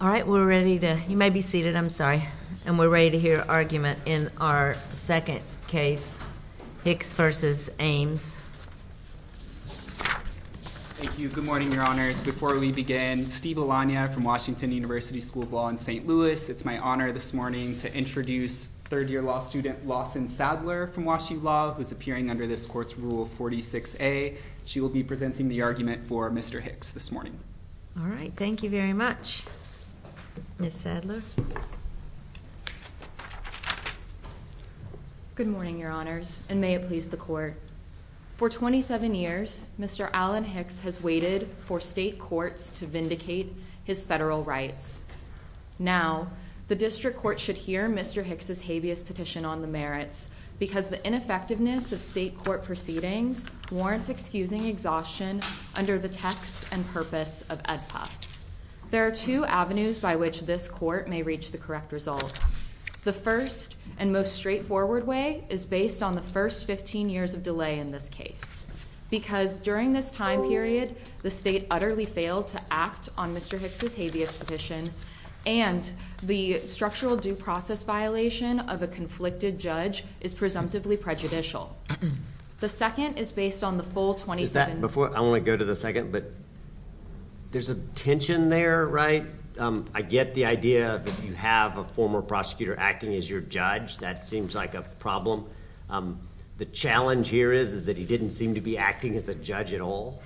All right. We're ready to, you may be seated, I'm sorry. And we're ready to hear argument in our second case, Hicks v. Ames. Thank you. Good morning, your honors. Before we begin, Steve Alanya from Washington University School of Law in St. Louis. It's my honor this morning to introduce third year law student Lawson Sadler from Wash U Law, who's appearing under this court's rule 46A. She will be presenting the argument for Mr. Hicks this morning. All right, thank you very much. Ms. Sadler. Good morning, your honors, and may it please the court. For 27 years, Mr. Alan Hicks has waited for state courts to vindicate his federal rights. Now, the district court should hear Mr. Hicks' habeas petition on the merits, because the ineffectiveness of state court proceedings warrants excusing exhaustion under the text and purpose of AEDPA. There are two avenues by which this court may reach the correct result. The first and most straightforward way is based on the first 15 years of delay in this case. Because during this time period, the state utterly failed to act on Mr. Hicks' habeas petition, and the structural due process violation of a conflicted judge is presumptively prejudicial. The second is based on the full 27 years. I want to go to the second, but there's a tension there, right? I get the idea that you have a former prosecutor acting as your judge. That seems like a problem. The challenge here is that he didn't seem to be acting as a judge at all.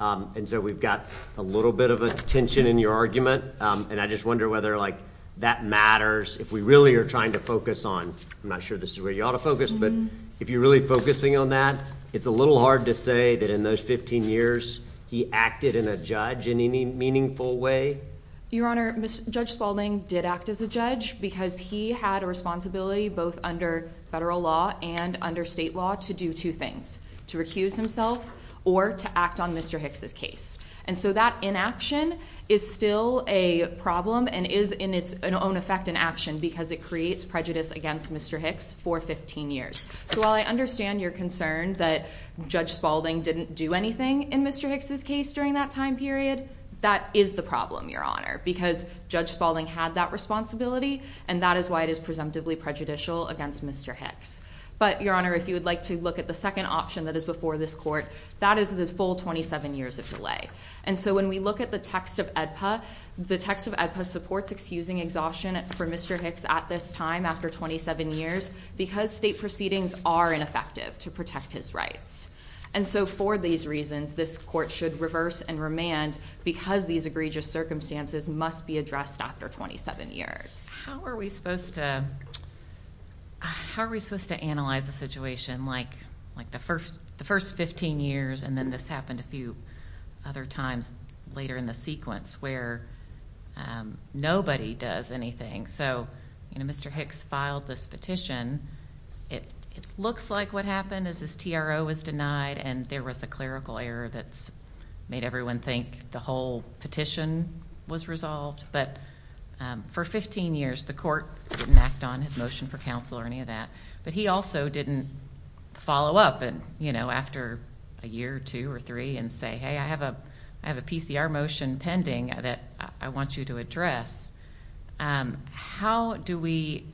And so we've got a little bit of a tension in your argument, and I just wonder whether that matters. If we really are trying to focus on, I'm not sure this is where you ought to focus, but if you're really focusing on that, it's a little hard to say that in those 15 years he acted in a judge in any meaningful way. Your Honor, Judge Spalding did act as a judge because he had a responsibility both under federal law and under state law to do two things, to recuse himself or to act on Mr. Hicks' case. And so that inaction is still a problem and is in its own effect an action because it creates prejudice against Mr. Hicks for 15 years. So while I understand your concern that Judge Spalding didn't do anything in Mr. Hicks' case during that time period, that is the problem, Your Honor, because Judge Spalding had that responsibility, and that is why it is presumptively prejudicial against Mr. Hicks. But Your Honor, if you would like to look at the second option that is before this court, that is the full 27 years of delay. And so when we look at the text of AEDPA, the text of AEDPA supports excusing exhaustion for Mr. Hicks at this time after 27 years because state proceedings are ineffective to protect his rights. And so for these reasons, this court should reverse and remand because these egregious circumstances must be addressed after 27 years. How are we supposed to analyze a situation like the first 15 years, and then this happened a few other times later in the sequence where nobody does anything? So Mr. Hicks filed this petition. It looks like what happened is his TRO was denied and there was a clerical error that's made everyone think the whole petition was resolved. But for 15 years, the court didn't act on his motion for counsel or any of that. But he also didn't follow up after a year or two or three and say, hey, I have a PCR motion pending that I want you to address. How do we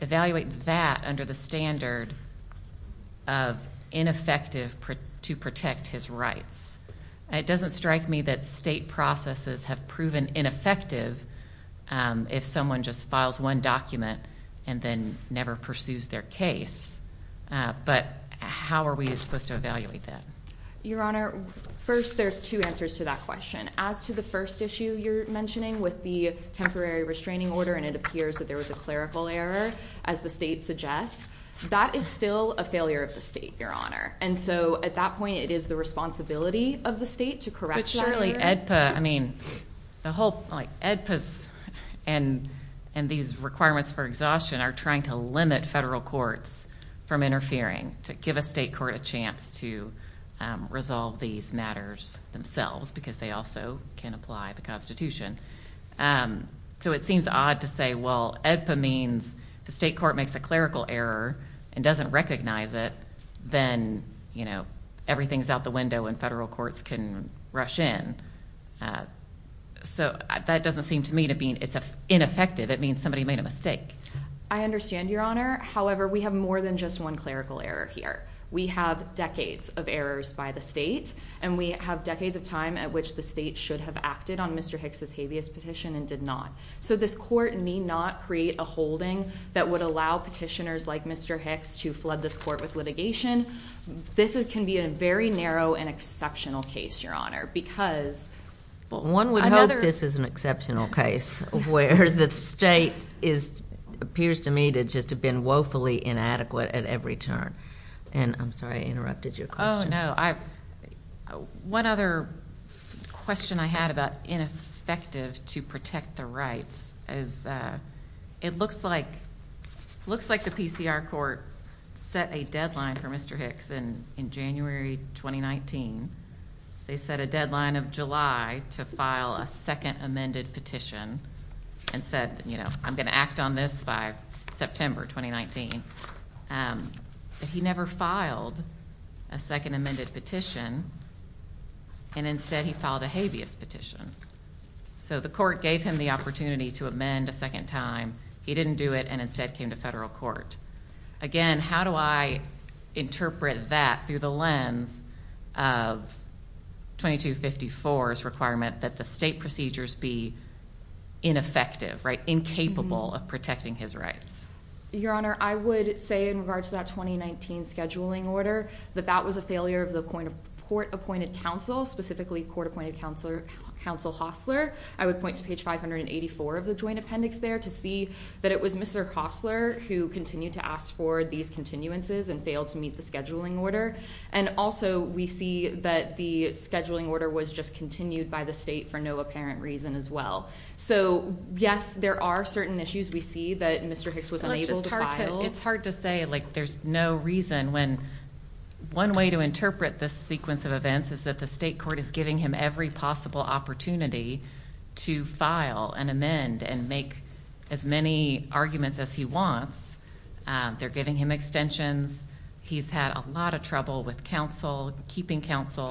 evaluate that under the standard of ineffective to protect his rights? It doesn't strike me that state processes have proven ineffective if someone just files one document and then never pursues their case. But how are we supposed to evaluate that? Your Honor, first, there's two answers to that question. As to the first issue you're mentioning with the temporary restraining order and it appears that there was a clerical error as the state suggests, that is still a failure of the state, Your Honor. And so at that point, it is the responsibility of the state to correct that error. But surely, AEDPA, I mean, the whole, like AEDPA's and these requirements for exhaustion are trying to limit federal courts from interfering to give a state court a chance to resolve these matters themselves because they also can apply the Constitution. So it seems odd to say, well, AEDPA means the state court makes a clerical error and doesn't recognize it, then everything's out the window and federal courts can rush in. So that doesn't seem to me to mean it's ineffective. It means somebody made a mistake. I understand, Your Honor. However, we have more than just one clerical error here. We have decades of errors by the state and we have decades of time at which the state should have acted on Mr. Hicks' habeas petition and did not. So this court need not create a holding that would allow petitioners like Mr. Hicks to flood this court with litigation. This can be a very narrow and exceptional case, Your Honor, because- Well, one would hope this is an exceptional case where the state appears to me to just have been woefully inadequate at every turn. And I'm sorry, I interrupted your question. No, one other question I had about ineffective to protect the rights is it looks like the PCR court set a deadline for Mr. Hicks in January 2019. They set a deadline of July to file a second amended petition and said, you know, I'm gonna act on this by September 2019. But he never filed a second amended petition and instead he filed a habeas petition. So the court gave him the opportunity to amend a second time. He didn't do it and instead came to federal court. Again, how do I interpret that through the lens of 2254's requirement that the state procedures be ineffective, right, incapable of protecting his rights? Your Honor, I would say in regards to that 2019 scheduling order, that that was a failure of the court appointed counsel, specifically court appointed counsel Hosler. I would point to page 584 of the joint appendix there to see that it was Mr. Hosler who continued to ask for these continuances and failed to meet the scheduling order. And also we see that the scheduling order was just continued by the state for no apparent reason as well. So yes, there are certain issues. We see that Mr. Hicks was unable to file. It's hard to say, like there's no reason when one way to interpret this sequence of events is that the state court is giving him every possible opportunity to file and amend and make as many arguments as he wants. They're giving him extensions. He's had a lot of trouble with counsel, keeping counsel,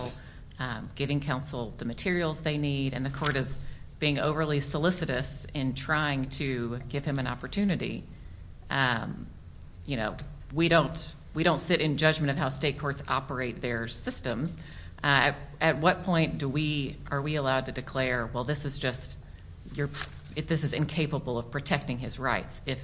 giving counsel the materials they need. And the court is being overly solicitous in trying to give him an opportunity. We don't sit in judgment of how state courts operate their systems. At what point are we allowed to declare, well, this is just, if this is incapable of protecting his rights, if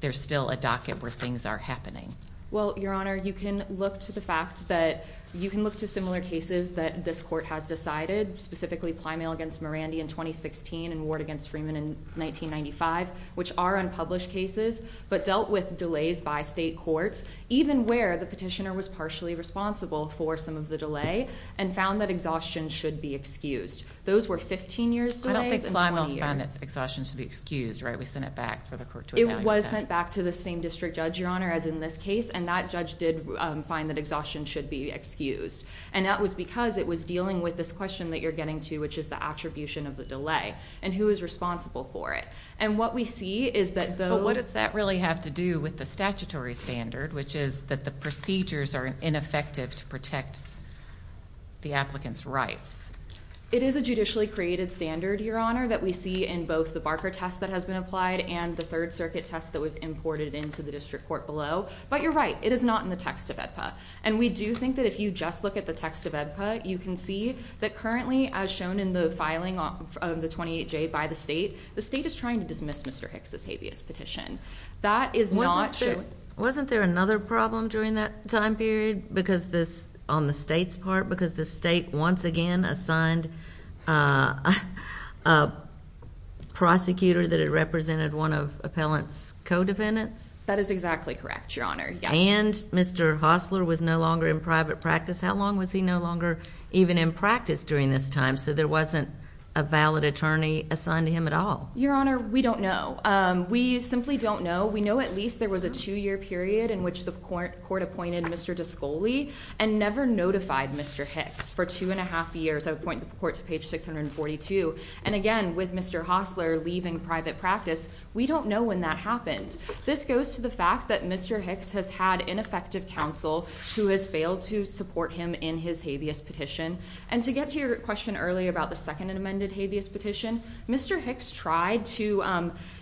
there's still a docket where things are happening? Well, Your Honor, you can look to the fact that you can look to similar cases that this court has decided, specifically Plymail against Mirandi in 2016 and Ward against Freeman in 1995, which are unpublished cases, but dealt with delays by state courts, even where the petitioner was partially responsible for some of the delay and found that exhaustion should be excused. Those were 15 years delays and 20 years. I don't think Plymail found that exhaustion should be excused, right? We sent it back for the court to evaluate that. It was sent back to the same district judge, Your Honor, as in this case, and that judge did find that exhaustion should be excused. And that was because it was dealing with this question that you're getting to, which is the attribution of the delay and who is responsible for it. And what we see is that those- But what does that really have to do with the statutory standard, which is that the procedures are ineffective to protect the applicant's rights? It is a judicially created standard, Your Honor, that we see in both the Barker test that has been applied and the Third Circuit test that was imported into the district court below. But you're right, it is not in the text of AEDPA. And we do think that if you just look at the text of AEDPA, you can see that currently, as shown in the filing of the 28-J by the state, the state is trying to dismiss Mr. Hicks' habeas petition. That is not showing- Wasn't there another problem during that time period because this, on the state's part, because the state once again assigned a prosecutor that had represented one of appellant's co-defendants? That is exactly correct, Your Honor, yes. And Mr. Hossler was no longer in private practice. How long was he no longer even in practice during this time so there wasn't a valid attorney assigned to him at all? Your Honor, we don't know. We simply don't know. We know at least there was a two-year period in which the court appointed Mr. Discoli and never notified Mr. Hicks for two and a half years. I would point the court to page 642. And again, with Mr. Hossler leaving private practice, we don't know when that happened. This goes to the fact that Mr. Hicks has had ineffective counsel who has failed to support him in his habeas petition. And to get to your question earlier about the second amended habeas petition, Mr. Hicks tried to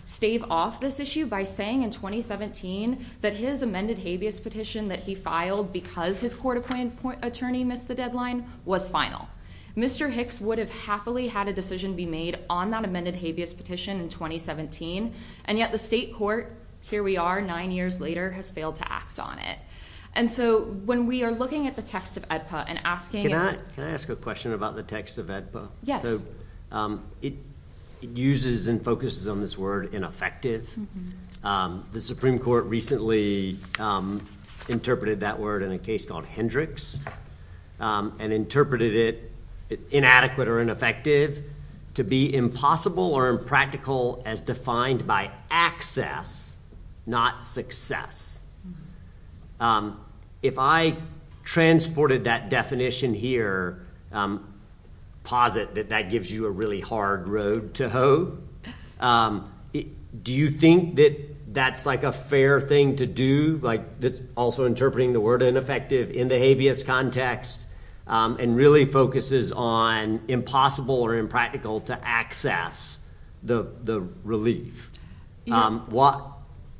stave off this issue by saying in 2017 that his amended habeas petition that he filed because his court-appointed attorney missed the deadline was final. Mr. Hicks would have happily had a decision be made on that amended habeas petition in 2017, and yet the state court, here we are nine years later, has failed to act on it. And so when we are looking at the text of AEDPA and asking it- Can I ask a question about the text of AEDPA? Yes. It uses and focuses on this word ineffective. The Supreme Court recently interpreted that word in a case called Hendricks and interpreted it inadequate or ineffective to be impossible or impractical as defined by access, not success. If I transported that definition here, posit that that gives you a really hard road to hoe, do you think that that's like a fair thing to do? Like this also interpreting the word ineffective in the habeas context and really focuses on impossible or impractical to access the relief.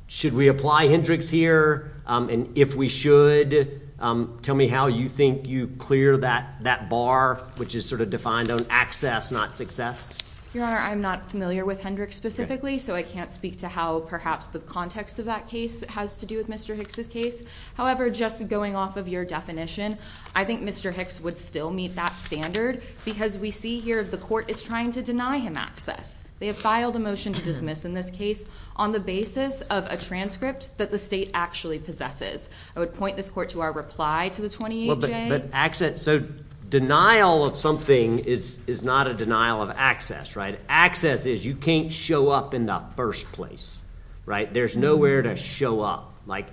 Should we apply Hendricks here? And if we should, tell me how you think you clear that bar, which is sort of defined on access, not success. Your Honor, I'm not familiar with Hendricks specifically, so I can't speak to how perhaps the context of that case has to do with Mr. Hicks' case. However, just going off of your definition, I think Mr. Hicks would still meet that standard because we see here the court is trying to deny him access. They have filed a motion to dismiss in this case on the basis of a transcript that the state actually possesses. I would point this court to our reply to the 28-J. So denial of something is not a denial of access, right? Access is you can't show up in the first place, right? There's nowhere to show up. Like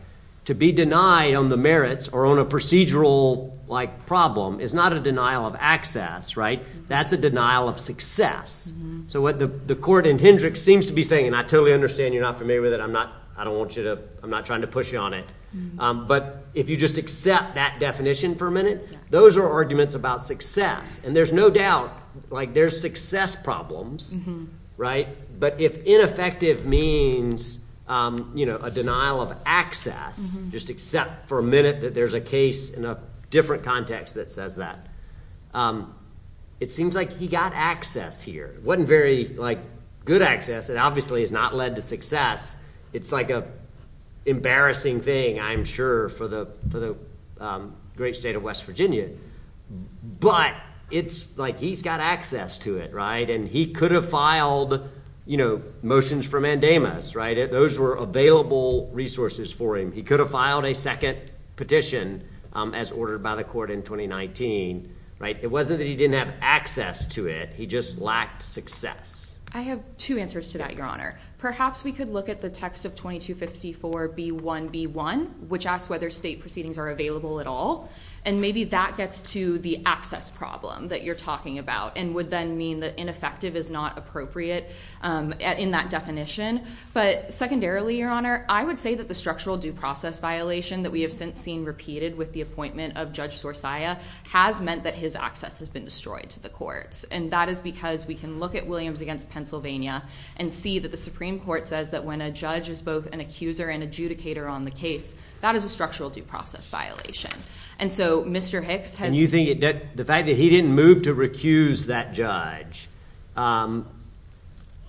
to be denied on the merits or on a procedural like problem is not a denial of access, right? That's a denial of success. So what the court in Hendricks seems to be saying, and I totally understand you're not familiar with it. I'm not, I don't want you to, I'm not trying to push you on it. But if you just accept that definition for a minute, those are arguments about success. And there's no doubt, like there's success problems, right? But if ineffective means, you know, a denial of access, just accept for a minute that there's a case in a different context that says that. It seems like he got access here. Wasn't very like good access. It obviously has not led to success. It's like a embarrassing thing, I'm sure, for the great state of West Virginia. But it's like, he's got access to it, right? And he could have filed, you know, motions for mandamus, right, those were available resources for him. He could have filed a second petition as ordered by the court in 2019, right? It wasn't that he didn't have access to it. He just lacked success. I have two answers to that, your honor. Perhaps we could look at the text of 2254B1B1, which asks whether state proceedings are available at all. And maybe that gets to the access problem that you're talking about, and would then mean that ineffective is not appropriate in that definition. But secondarily, your honor, I would say that the structural due process violation that we have since seen repeated with the appointment of Judge Sorcia has meant that his access has been destroyed to the courts. And that is because we can look at Williams against Pennsylvania and see that the Supreme Court says that when a judge is both an accuser and adjudicator on the case, that is a structural due process violation. And so Mr. Hicks has- And you think the fact that he didn't move to recuse that judge,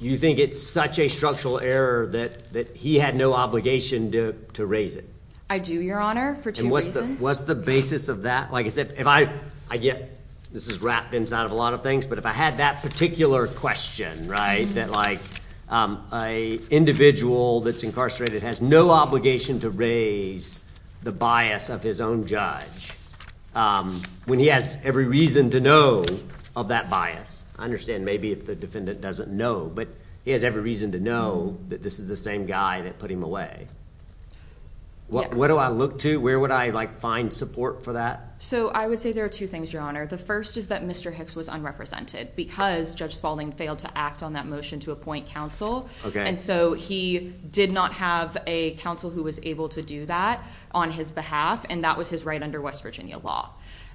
you think it's such a structural error that he had no obligation to raise it? I do, your honor, for two reasons. What's the basis of that? Like I said, if I get, this is wrapped inside of a lot of things, but if I had that particular question, right? That like a individual that's incarcerated has no obligation to raise the bias of his own judge when he has every reason to know of that bias. I understand maybe if the defendant doesn't know, but he has every reason to know that this is the same guy that put him away. What do I look to? Where would I like find support for that? So I would say there are two things, your honor. The first is that Mr. Hicks was unrepresented because Judge Spaulding failed to act on that motion to appoint counsel. And so he did not have a counsel who was able to do that on his behalf. And that was his right under West Virginia law.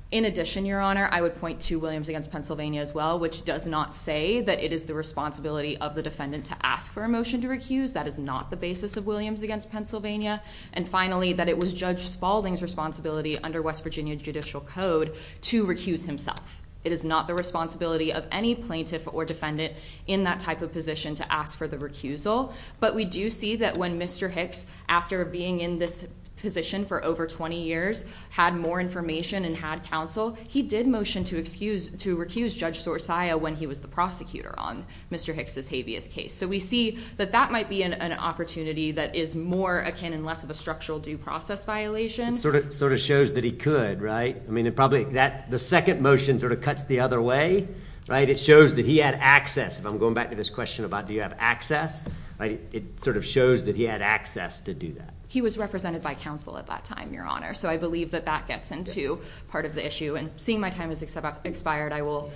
In addition, your honor, I would point to Williams against Pennsylvania as well, which does not say that it is the responsibility of the defendant to ask for a motion to recuse. That is not the basis of Williams against Pennsylvania. And finally, that it was Judge Spaulding's responsibility under West Virginia judicial code to recuse himself. It is not the responsibility of any plaintiff or defendant in that type of position to ask for the recusal. But we do see that when Mr. Hicks, after being in this position for over 20 years, had more information and had counsel, he did motion to recuse Judge Sorcia when he was the prosecutor on Mr. Hicks' habeas case. So we see that that might be an opportunity that is more akin and less of a structural due process violation. Sort of shows that he could, right? I mean, it probably that the second motion sort of cuts the other way, right? It shows that he had access. If I'm going back to this question about, do you have access? It sort of shows that he had access to do that. He was represented by counsel at that time, your honor. So I believe that that gets into part of the issue and seeing my time has expired, I will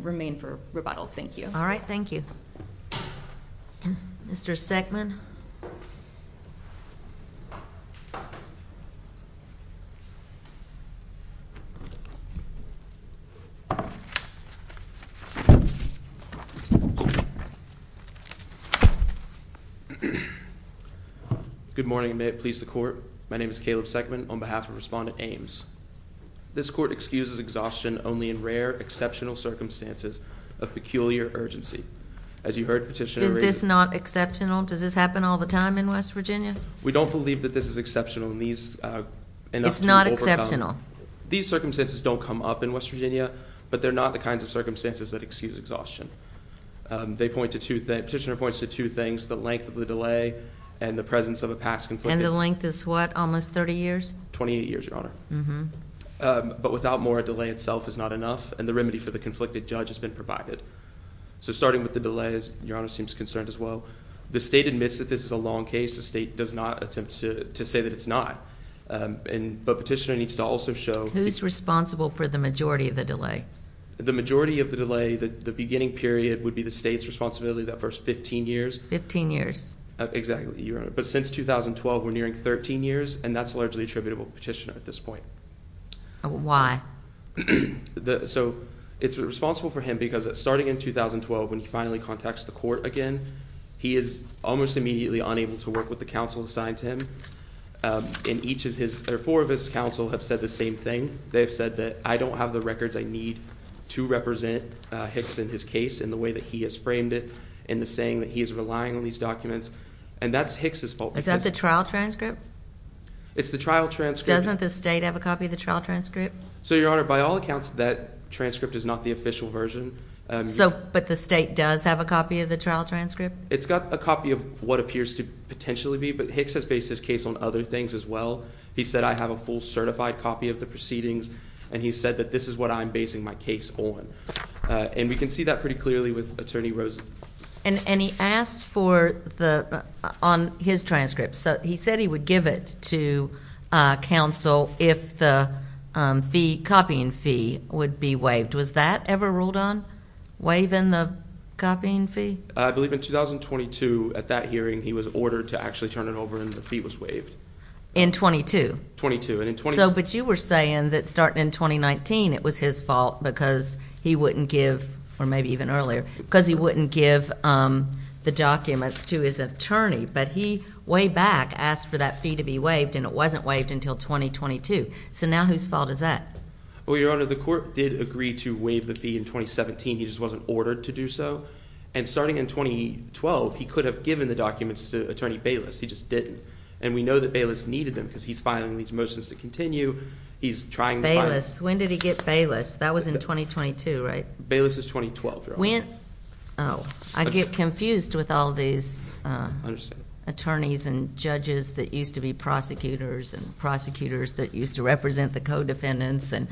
remain for rebuttal, thank you. All right, thank you. Mr. Seckman. Good morning, and may it please the court. My name is Caleb Seckman on behalf of Respondent Ames. This court excuses exhaustion only in rare, exceptional circumstances of peculiar urgency. As you heard, Petitioner- Is this not exceptional? Does this happen all the time in West Virginia? We don't believe that this is exceptional and these- It's not exceptional. These circumstances don't come up in West Virginia, but they're not the kinds of circumstances that excuse exhaustion. They point to two things, Petitioner points to two things, the length of the delay and the presence of a past conflict. And the length is what, almost 30 years? 28 years, your honor. Mm-hmm. But without more, a delay itself is not enough and the remedy for the conflicted judge has been provided. So starting with the delay, your honor seems concerned as well. The state admits that this is a long case. The state does not attempt to say that it's not. But Petitioner needs to also show- Who's responsible for the majority of the delay? The majority of the delay, the beginning period would be the state's responsibility that first 15 years. 15 years. Exactly, your honor. But since 2012, we're nearing 13 years and that's largely attributable to Petitioner at this point. Why? So it's responsible for him because starting in 2012, when he finally contacts the court again, he is almost immediately unable to work with the counsel assigned to him. And each of his, or four of his counsel have said the same thing. They've said that, I don't have the records I need to represent Hicks in his case in the way that he has framed it in the saying that he is relying on these documents. And that's Hicks' fault. Is that the trial transcript? It's the trial transcript. Doesn't the state have a copy of the trial transcript? So your honor, by all accounts, that transcript is not the official version. But the state does have a copy of the trial transcript? It's got a copy of what appears to potentially be, but Hicks has based his case on other things as well. He said, I have a full certified copy of the proceedings. And he said that this is what I'm basing my case on. And we can see that pretty clearly with Attorney Rosen. And he asked for the, on his transcript. So he said he would give it to counsel if the fee, copying fee, would be waived. Was that ever ruled on, waiving the copying fee? I believe in 2022, at that hearing, he was ordered to actually turn it over and the fee was waived. In 22? 22. So, but you were saying that starting in 2019, it was his fault because he wouldn't give, or maybe even earlier, because he wouldn't give the documents to his attorney. But he, way back, asked for that fee to be waived and it wasn't waived until 2022. So now whose fault is that? Well, Your Honor, the court did agree to waive the fee in 2017. He just wasn't ordered to do so. And starting in 2012, he could have given the documents to Attorney Bayless. He just didn't. And we know that Bayless needed them because he's filing these motions to continue. He's trying to find- Bayless? When did he get Bayless? That was in 2022, right? Bayless is 2012, Your Honor. When? Oh, I get confused with all these attorneys and judges that used to be prosecutors and prosecutors that used to represent the co-defendants and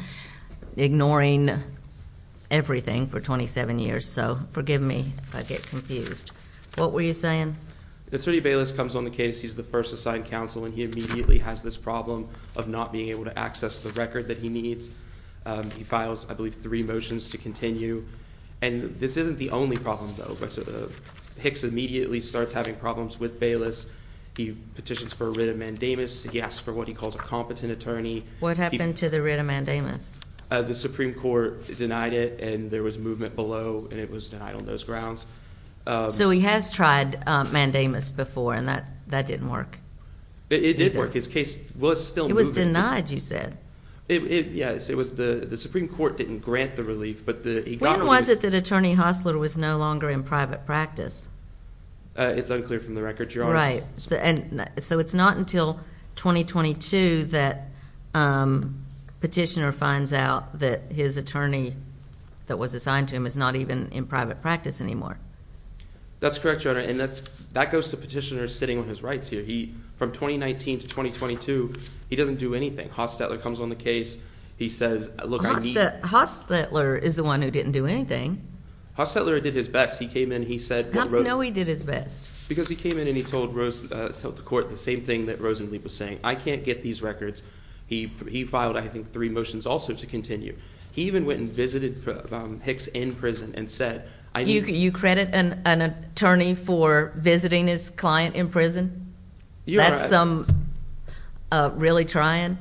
ignoring everything for 27 years. So forgive me if I get confused. What were you saying? Attorney Bayless comes on the case. He's the first assigned counsel and he immediately has this problem of not being able to access the record that he needs. He files, I believe, three motions to continue. And this isn't the only problem, though. But Hicks immediately starts having problems with Bayless. He petitions for a writ of mandamus. He asks for what he calls a competent attorney. What happened to the writ of mandamus? The Supreme Court denied it and there was movement below and it was denied on those grounds. So he has tried mandamus before and that didn't work? It did work. His case was still moving. It was denied, you said. It, yes, it was. The Supreme Court didn't grant the relief, but the- When was it that Attorney Hostler was no longer in private practice? It's unclear from the record, Your Honor. So it's not until 2022 that Petitioner finds out that his attorney that was assigned to him is not even in private practice anymore? That's correct, Your Honor. And that goes to Petitioner sitting on his rights here. From 2019 to 2022, he doesn't do anything. Hostler comes on the case. He says, look, I need- Hostler is the one who didn't do anything. Hostler did his best. He came in, he said- How do you know he did his best? Because he came in and he told the court the same thing that Rosenblatt was saying. I can't get these records. He filed, I think, three motions also to continue. He even went and visited Hicks in prison and said, I need- You credit an attorney for visiting his client in prison? Your Honor- That's some really trying.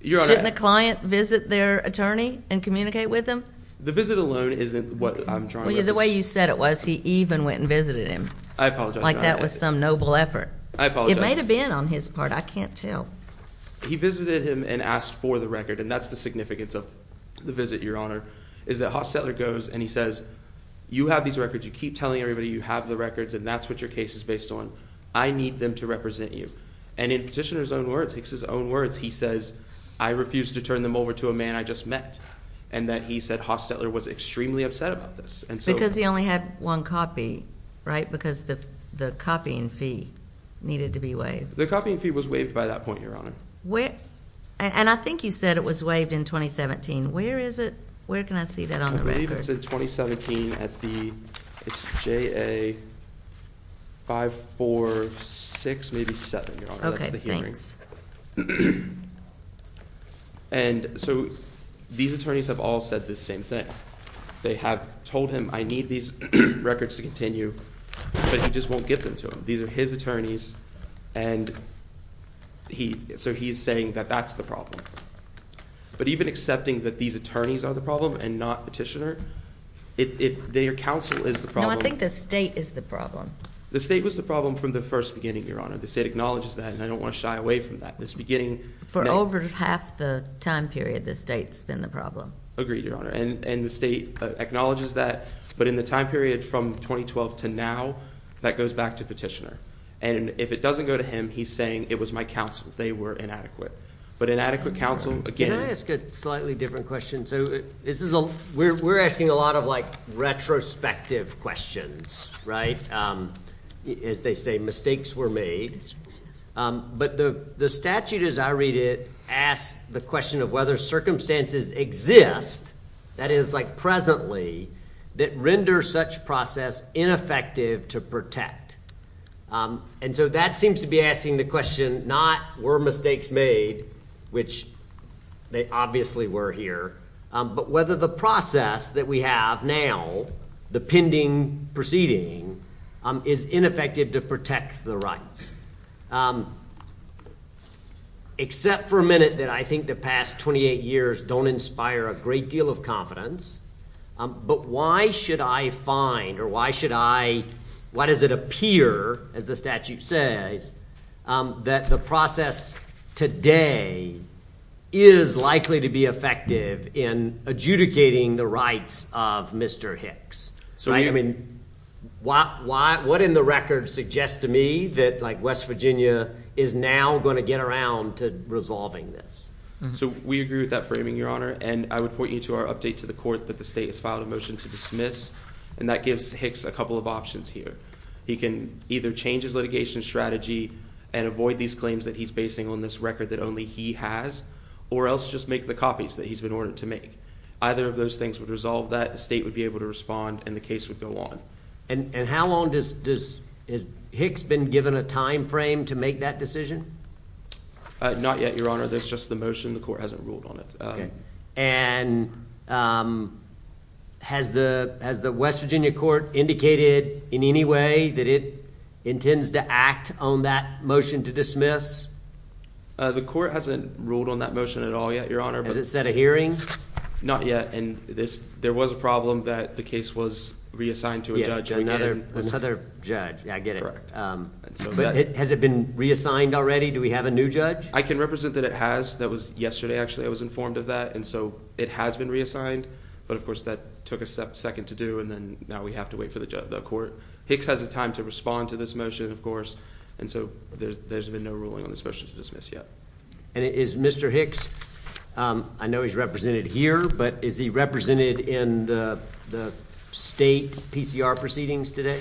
Your Honor- Shouldn't a client visit their attorney and communicate with them? The visit alone isn't what I'm trying to- The way you said it was, he even went and visited him. I apologize, Your Honor. Like that was some noble effort. I apologize. It may have been on his part. I can't tell. He visited him and asked for the record, and that's the significance of the visit, Your Honor, is that Hostler goes and he says, you have these records. You keep telling everybody you have the records and that's what your case is based on. I need them to represent you. And in Petitioner's own words, Hicks' own words, he says, I refuse to turn them over to a man I just met. And that he said Hostler was extremely upset about this. And so- Because he only had one copy, right? Because the copying fee needed to be waived. The copying fee was waived by that point, Your Honor. And I think you said it was waived in 2017. Where is it? Where can I see that on the record? I believe it's in 2017 at the, it's JA546, maybe seven, Your Honor. Okay, thanks. And so these attorneys have all said the same thing. They have told him, I need these records to continue, but he just won't get them to him. These are his attorneys and he, so he's saying that that's the problem. But even accepting that these attorneys are the problem and not Petitioner, if their counsel is the problem- No, I think the state is the problem. The state was the problem from the first beginning, Your Honor. The state acknowledges that and I don't want to shy away from that. This beginning- For over half the time period, the state's been the problem. Agreed, Your Honor. And the state acknowledges that, but in the time period from 2012 to now, that goes back to Petitioner. And if it doesn't go to him, he's saying, it was my counsel, they were inadequate. But inadequate counsel, again- Can I ask a slightly different question? So this is, we're asking a lot of like, retrospective questions, right? As they say, mistakes were made. But the statute, as I read it, asks the question of whether circumstances exist, that is like presently, that render such process ineffective to protect. And so that seems to be asking the question, not were mistakes made, which they obviously were here, but whether the process that we have now, the pending proceeding, is ineffective to protect the rights. Um, except for a minute that I think the past 28 years don't inspire a great deal of confidence, but why should I find, or why should I, why does it appear, as the statute says, that the process today is likely to be effective in adjudicating the rights of Mr. Hicks? So I mean, what in the record suggests to me that like West Virginia is now gonna get around to resolving this? So we agree with that framing, your honor, and I would point you to our update to the court that the state has filed a motion to dismiss, and that gives Hicks a couple of options here. He can either change his litigation strategy and avoid these claims that he's basing on this record that only he has, or else just make the copies that he's been ordered to make. Either of those things would resolve that, the state would be able to respond, and the case would go on. And how long has Hicks been given a timeframe to make that decision? Not yet, your honor, that's just the motion, the court hasn't ruled on it. And has the West Virginia court indicated in any way that it intends to act on that motion to dismiss? The court hasn't ruled on that motion at all yet, your honor. Has it set a hearing? Not yet, and there was a problem that the case was reassigned to a judge. Yeah, another judge, yeah, I get it. Has it been reassigned already? Do we have a new judge? I can represent that it has. That was yesterday, actually, I was informed of that, and so it has been reassigned, but of course that took a second to do, and then now we have to wait for the court. Hicks has the time to respond to this motion, of course, and so there's been no ruling on this motion to dismiss yet. And is Mr. Hicks, I know he's represented here, but is he represented in the state PCR proceedings today?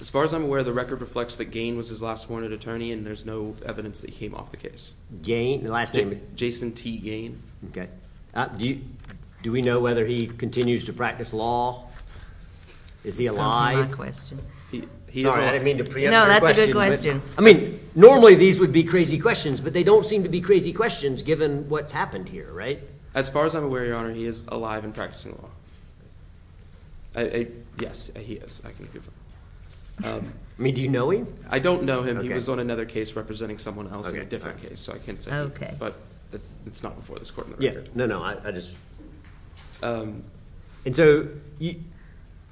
As far as I'm aware, the record reflects that Gane was his last wanted attorney, and there's no evidence that he came off the case. Gane, the last name? Jason T. Gane. Okay, do we know whether he continues to practice law? Is he alive? That's not my question. Sorry, I didn't mean to preempt your question. No, that's a good question. I mean, normally these would be crazy questions, but they don't seem to be crazy questions given what's happened here, right? As far as I'm aware, Your Honor, he is alive and practicing law. Yes, he is. I can agree with that. I mean, do you know him? I don't know him. He was on another case representing someone else in a different case, so I can't say. But it's not before this court. Yeah, no, no, I just. And so,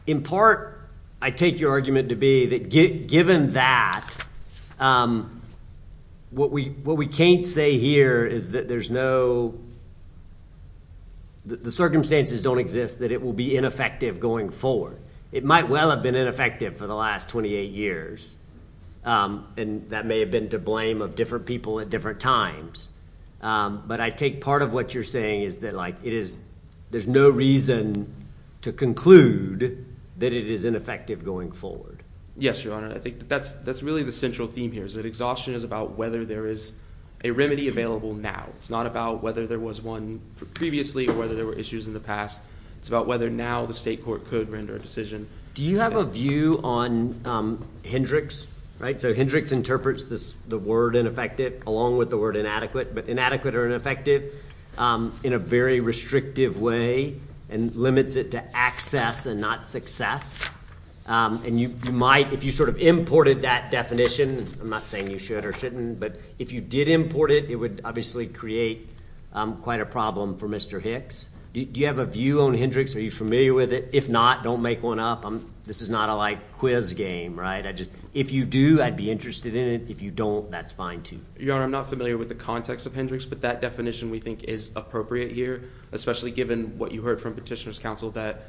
in part, I take your argument to be that given that, what we can't say here is that there's no, the circumstances don't exist that it will be ineffective going forward. It might well have been ineffective for the last 28 years, and that may have been to blame of different people at different times, but I take part of what you're saying is that there's no reason to conclude that it is ineffective going forward. Yes, Your Honor, I think that's really the central theme here, is that exhaustion is about whether there is a remedy available now. It's not about whether there was one previously or whether there were issues in the past. It's about whether now the state court could render a decision. Do you have a view on Hendricks, right? So Hendricks interprets the word ineffective along with the word inadequate, but inadequate or ineffective in a very restrictive way and limits it to access and not success. And you might, if you sort of imported that definition, I'm not saying you should or shouldn't, but if you did import it, it would obviously create quite a problem for Mr. Hicks. Do you have a view on Hendricks? Are you familiar with it? If not, don't make one up. This is not a quiz game, right? If you do, I'd be interested in it. If you don't, that's fine too. Your Honor, I'm not familiar with the context of Hendricks, but that definition we think is appropriate here, especially given what you heard from Petitioner's Counsel that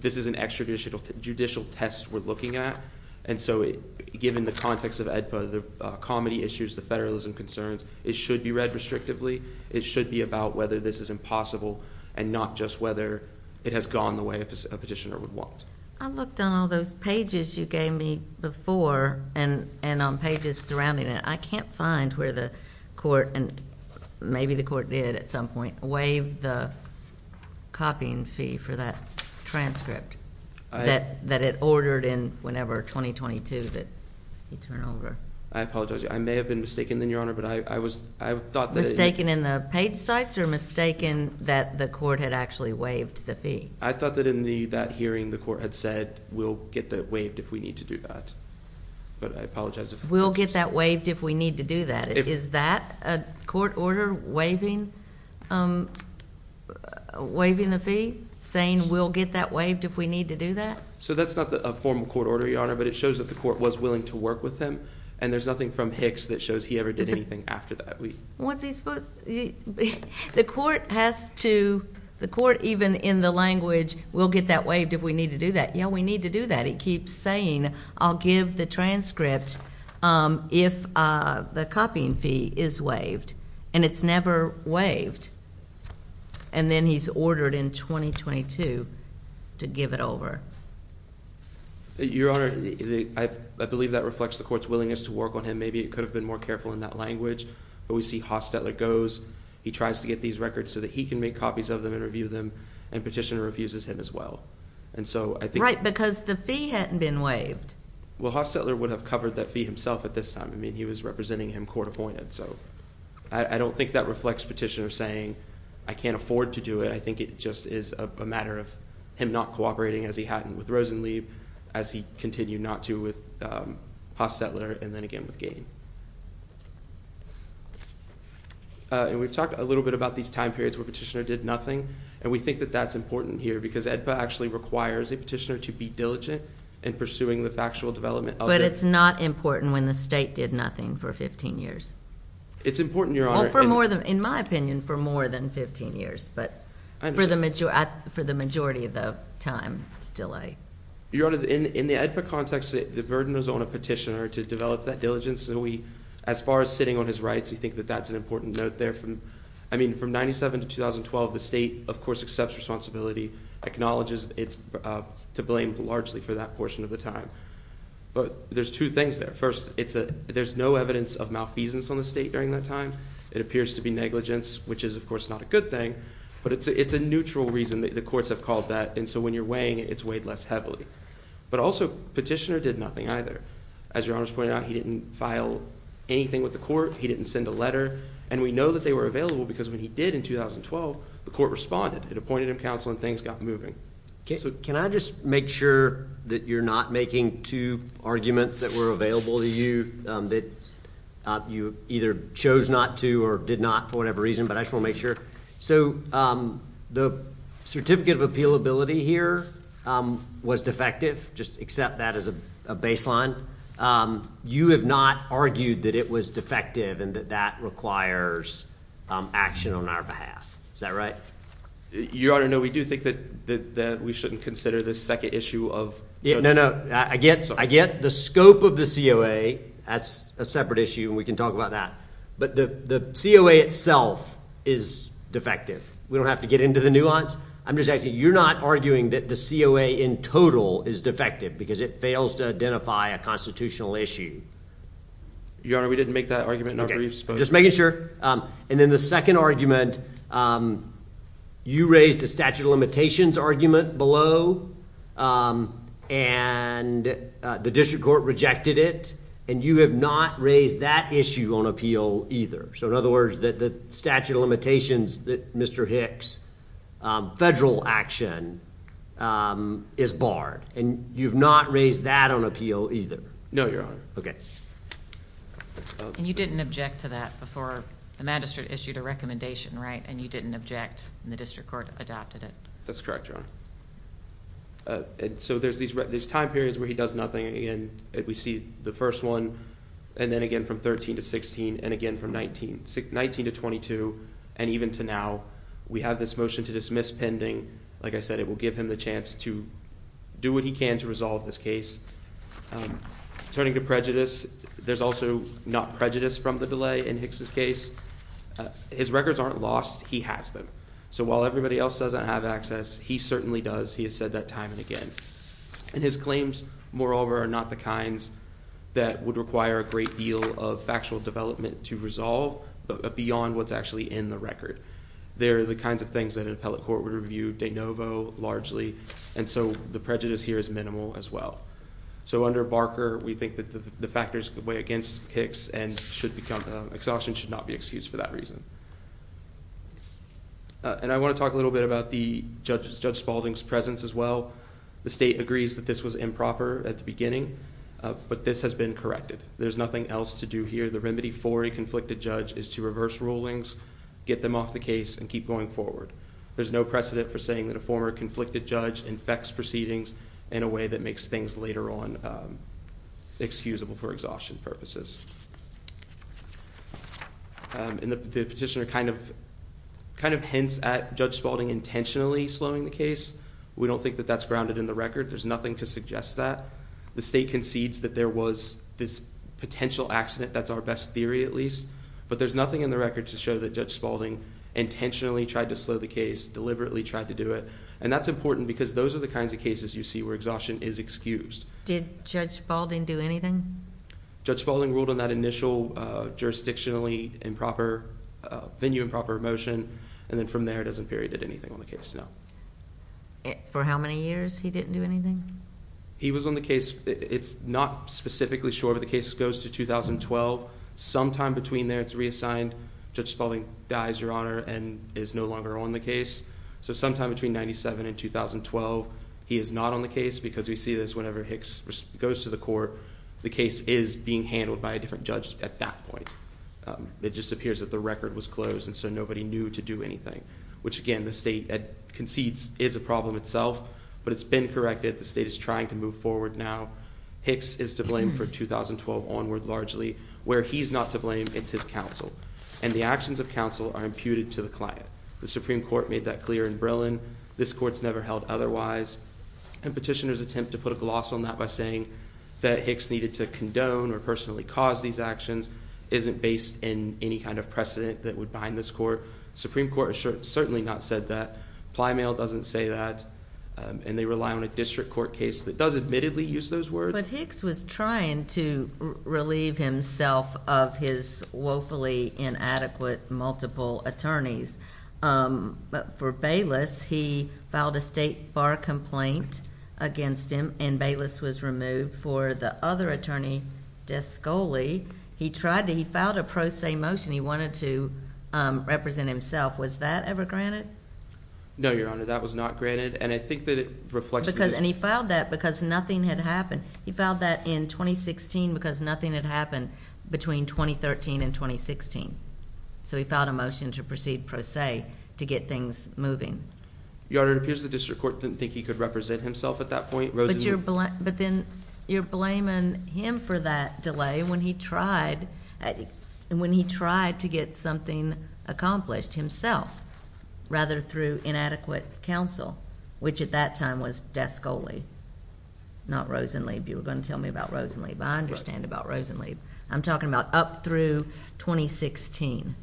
this is an extrajudicial test we're looking at. And so given the context of AEDPA, the comedy issues, the federalism concerns, it should be read restrictively. It should be about whether this is impossible and not just whether it has gone the way a petitioner would want. I looked on all those pages you gave me before and on pages surrounding it. I can't find where the court, and maybe the court did at some point, waived the copying fee for that transcript that it ordered in whenever, 2022, that you turn over. I apologize. I may have been mistaken then, Your Honor, but I thought that it- Mistaken in the page sites or mistaken that the court had actually waived the fee? I thought that in that hearing, the court had said, we'll get that waived if we need to do that. But I apologize if- We'll get that waived if we need to do that. Is that a court order waiving the fee? Saying, we'll get that waived if we need to do that? So that's not a formal court order, Your Honor, but it shows that the court was willing to work with him. And there's nothing from Hicks that shows he ever did anything after that. What's he supposed to, the court has to, the court even in the language, we'll get that waived if we need to do that. Yeah, we need to do that. It keeps saying, I'll give the transcript if the copying fee is waived. And it's never waived. And then he's ordered in 2022 to give it over. Your Honor, I believe that reflects the court's willingness to work on him. Maybe it could have been more careful in that language. But we see Haas-Stetler goes, he tries to get these records so that he can make copies of them and review them. And petitioner refuses him as well. And so I think- Right, because the fee hadn't been waived. Well, Haas-Stetler would have covered that fee himself at this time. I mean, he was representing him court appointed. So I don't think that reflects petitioner saying, I can't afford to do it. I think it just is a matter of him not cooperating as he hadn't with Rosenlieb, as he continued not to with Haas-Stetler, and then again with Gane. And we've talked a little bit about these time periods where petitioner did nothing. And we think that that's important here because AEDPA actually requires a petitioner to be diligent in pursuing the factual development of- But it's not important when the state did nothing for 15 years. It's important, Your Honor. In my opinion, for more than 15 years, but for the majority of the time delay. Your Honor, in the AEDPA context, the burden is on a petitioner to develop that diligence. And we, as far as sitting on his rights, we think that that's an important note there. I mean, from 97 to 2012, the state, of course, accepts responsibility, acknowledges it's to blame largely for that portion of the time. But there's two things there. First, there's no evidence of malfeasance on the state during that time. It appears to be negligence, which is, of course, not a good thing. But it's a neutral reason that the courts have called that. And so when you're weighing it, it's weighed less heavily. But also, petitioner did nothing either. As Your Honor's pointed out, he didn't file anything with the court. He didn't send a letter. And we know that they were available because when he did in 2012, the court responded. It appointed him counsel and things got moving. Can I just make sure that you're not making two arguments that were available to you that you either chose not to or did not, for whatever reason, but I just wanna make sure. So the Certificate of Appealability here was defective, just accept that as a baseline. You have not argued that it was defective and that that requires action on our behalf. Is that right? Your Honor, no, we do think that we shouldn't consider this second issue of judgment. No, no, I get the scope of the COA. That's a separate issue and we can talk about that. But the COA itself is defective. We don't have to get into the nuance. I'm just asking, you're not arguing that the COA in total is defective because it fails to identify a constitutional issue? Your Honor, we didn't make that argument, not where you're supposed to. Okay, just making sure. And then the second argument, you raised a statute of limitations argument below and the district court rejected it. And you have not raised that issue on appeal either. So in other words, the statute of limitations that Mr. Hicks' federal action is barred. And you've not raised that on appeal either? No, Your Honor. Okay. And you didn't object to that before the magistrate issued a recommendation, right? And you didn't object and the district court adopted it? That's correct, Your Honor. So there's time periods where he does nothing and we see the first one, and then again from 13 to 16, and again from 19 to 22, and even to now, we have this motion to dismiss pending. Like I said, it will give him the chance to do what he can to resolve this case. Turning to prejudice, there's also not prejudice from the delay in Hicks' case. His records aren't lost, he has them. So while everybody else doesn't have access, he certainly does, he has said that time and again. And his claims, moreover, are not the kinds that would require a great deal of factual development to resolve beyond what's actually in the record. They're the kinds of things that an appellate court would review de novo, largely, and so the prejudice here is minimal as well. So under Barker, we think that the factors way against Hicks and should become, exhaustion should not be excused for that reason. And I wanna talk a little bit about Judge Spalding's presence as well. The state agrees that this was improper at the beginning, but this has been corrected. There's nothing else to do here. The remedy for a conflicted judge is to reverse rulings, get them off the case, and keep going forward. There's no precedent for saying that a former conflicted judge infects proceedings in a way that makes things later on excusable for exhaustion purposes. And the petitioner kind of hints at Judge Spalding intentionally slowing the case. We don't think that that's grounded in the record. There's nothing to suggest that. The state concedes that there was this potential accident, that's our best theory at least, but there's nothing in the record to show that Judge Spalding intentionally tried to slow the case, deliberately tried to do it, and that's important because those are the kinds of cases you see where exhaustion is excused. Did Judge Spalding do anything? Judge Spalding ruled on that initial jurisdictionally improper, venue improper motion, and then from there, doesn't period anything on the case, no. For how many years he didn't do anything? He was on the case. It's not specifically sure, but the case goes to 2012. Sometime between there, it's reassigned. Judge Spalding dies, Your Honor, and is no longer on the case. So sometime between 97 and 2012, he is not on the case because we see this whenever Hicks goes to the court. The case is being handled by a different judge at that point. It just appears that the record was closed, and so nobody knew to do anything, which again, the state concedes is a problem itself, but it's been corrected. The state is trying to move forward now. Hicks is to blame for 2012 onward largely. Where he's not to blame, it's his counsel, and the actions of counsel are imputed to the client. The Supreme Court made that clear in Brillen. This court's never held otherwise, and petitioners attempt to put a gloss on that by saying that Hicks needed to condone or personally cause these actions isn't based in any kind of precedent that would bind this court. Supreme Court has certainly not said that. Plymail doesn't say that, and they rely on a district court case that does admittedly use those words. But Hicks was trying to relieve himself of his woefully inadequate multiple attorneys. But for Bayless, he filed a state bar complaint against him, and Bayless was removed. For the other attorney, De Scoli, he tried to, he filed a pro se motion. He wanted to represent himself. Was that ever granted? No, Your Honor, that was not granted, and I think that it reflects the- And he filed that because nothing had happened. He filed that in 2016 because nothing had happened between 2013 and 2016. So he filed a motion to proceed pro se to get things moving. Your Honor, it appears the district court didn't think he could represent himself at that point. But then you're blaming him for that delay when he tried to get something accomplished himself, rather through inadequate counsel, which at that time was De Scoli, not Rosenleib. You were gonna tell me about Rosenleib. I understand about Rosenleib. I'm talking about up through 2016.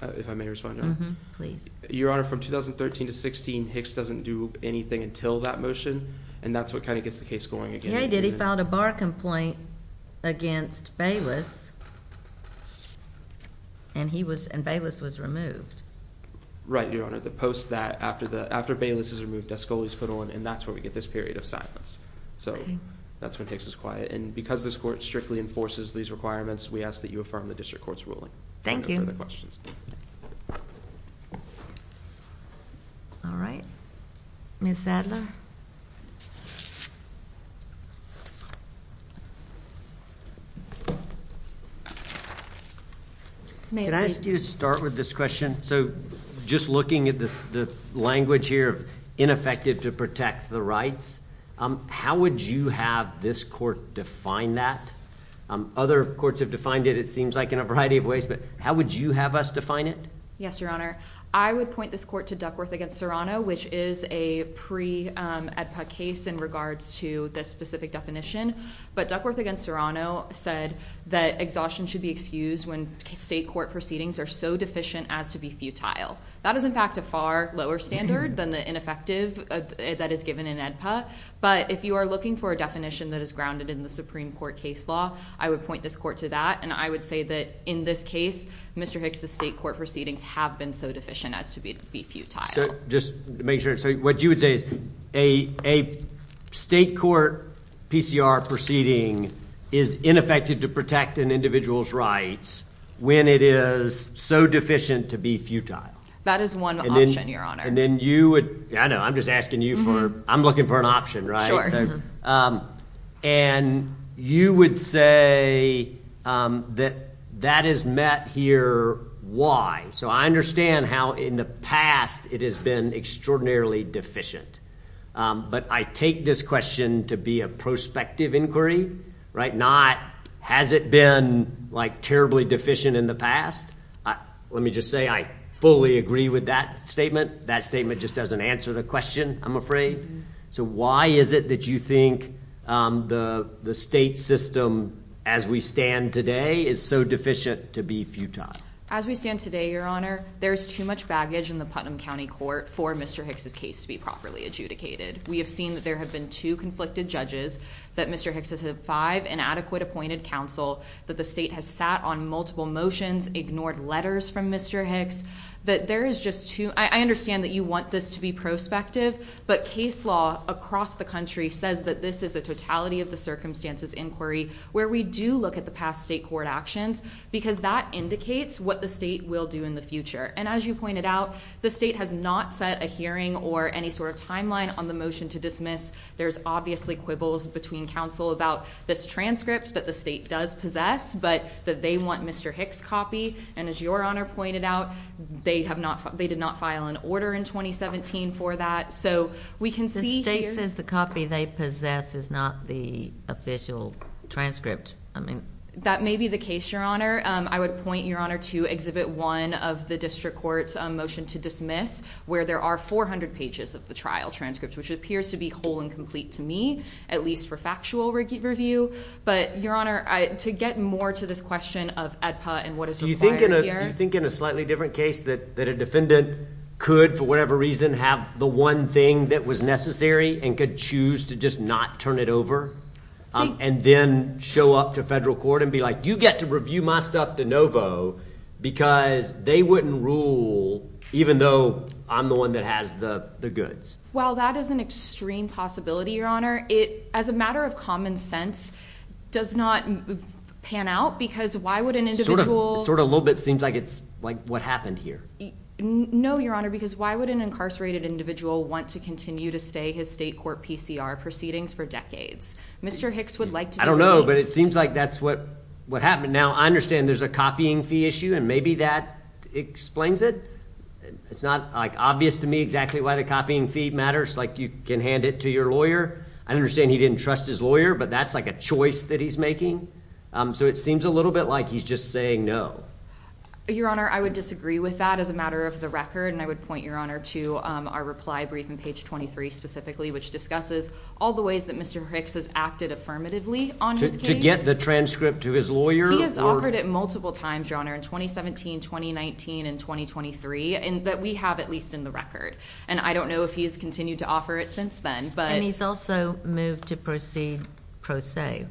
If I may respond, Your Honor? Please. Your Honor, from 2013 to 16, Hicks doesn't do anything until that motion, and that's what kind of gets the case going again. But what Jay did, he filed a bar complaint against Bayless, and Bayless was removed. Right, Your Honor. The post that after Bayless is removed, De Scoli's put on, and that's where we get this period of silence. So that's when Hicks is quiet. And because this court strictly enforces these requirements, we ask that you affirm the district court's ruling. Thank you. All right. Ms. Sadler? May I ask you to start with this question? So, just looking at the language here, ineffective to protect the rights, how would you have this court define that? Other courts have defined it, it seems like, in a variety of ways, but how would you have us define it? Yes, Your Honor. I would point this court to Duckworth against Serrano, which is a pre-AEDPA case in regards to the specific document that was filed. But Duckworth against Serrano said that exhaustion should be excused when state court proceedings are so deficient as to be futile. That is, in fact, a far lower standard than the ineffective that is given in AEDPA, but if you are looking for a definition that is grounded in the Supreme Court case law, I would point this court to that, and I would say that, in this case, Mr. Hicks' state court proceedings have been so deficient as to be futile. Just to make sure, so what you would say is a state court PCR proceeding is ineffective to protect an individual's rights when it is so deficient to be futile. That is one option, Your Honor. And then you would, I know, I'm just asking you for, I'm looking for an option, right? And you would say that that is met here, why? So I understand how, in the past, it has been extraordinarily deficient, but I take this question to be a prospective inquiry, right? Not, has it been terribly deficient in the past? Let me just say, I fully agree with that statement. That statement just doesn't answer the question, I'm afraid. So why is it that you think the state system, as we stand today, is so deficient to be futile? As we stand today, Your Honor, there's too much baggage in the Putnam County Court for Mr. Hicks' case to be properly adjudicated. We have seen that there have been two conflicted judges, that Mr. Hicks has had five inadequate appointed counsel, that the state has sat on multiple motions, ignored letters from Mr. Hicks, that there is just too, I understand that you want this to be prospective, but case law across the country says that this is a totality of the circumstances inquiry where we do look at the past state court actions because that indicates what the state will do in the future. And as you pointed out, the state has not set a hearing or any sort of timeline on the motion to dismiss. There's obviously quibbles between counsel about this transcript that the state does possess, but that they want Mr. Hicks' copy. And as Your Honor pointed out, they did not file an order in 2017 for that. So we can see here- The state says the copy they possess is not the official transcript. That may be the case, Your Honor. I would point Your Honor to Exhibit 1 of the district court's motion to dismiss, where there are 400 pages of the trial transcript, which appears to be whole and complete to me, at least for factual review. But Your Honor, to get more to this question of AEDPA and what is required here- Do you think in a slightly different case that a defendant could, for whatever reason, have the one thing that was necessary and could choose to just not turn it over and then show up to federal court and be like, you get to review my stuff de novo because they wouldn't rule even though I'm the one that has the goods? Well, that is an extreme possibility, Your Honor. It, as a matter of common sense, does not pan out because why would an individual- Sort of a little bit seems like it's like what happened here. No, Your Honor, because why would an incarcerated individual want to continue to stay his state court PCR proceedings for decades? Mr. Hicks would like to- I don't know, but it seems like that's what happened. Now, I understand there's a copying fee issue and maybe that explains it. It's not like obvious to me exactly why the copying fee matters. Like you can hand it to your lawyer. I understand he didn't trust his lawyer, but that's like a choice that he's making. So it seems a little bit like he's just saying no. Your Honor, I would disagree with that as a matter of the record. And I would point, Your Honor, to our reply briefing, page 23 specifically, which discusses all the ways that Mr. Hicks has acted affirmatively on his case. To get the transcript to his lawyer or- He has offered it multiple times, Your Honor, in 2017, 2019, and 2023, that we have at least in the record. And I don't know if he has continued to offer it since then, but- And he's also moved to proceed pro se.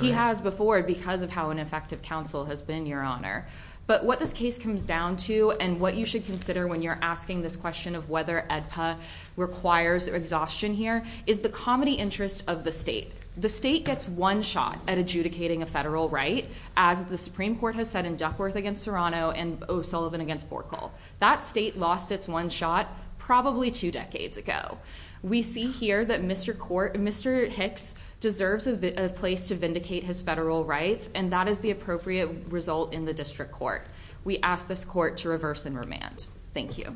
He has before because of how ineffective counsel has been, Your Honor. But what this case comes down to and what you should consider when you're asking this question of whether AEDPA requires exhaustion here is the comity interest of the state. The state gets one shot at adjudicating a federal right, as the Supreme Court has said in Duckworth against Serrano and O'Sullivan against Borkle. That state lost its one shot probably two decades ago. We see here that Mr. Hicks deserves a place to vindicate his federal rights, and that is the appropriate result in the district court. We ask this court to reverse and remand. Thank you.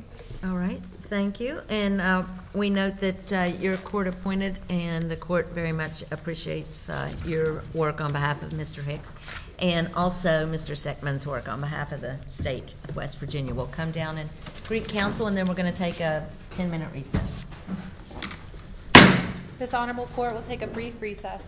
All right. Thank you. And we note that you're court appointed, and the court very much appreciates your work on behalf of Mr. Hicks and also Mr. Seckman's work on behalf of the state of West Virginia. We'll come down and greet counsel, and then we're going to take a 10-minute recess. This honorable court will take a brief recess.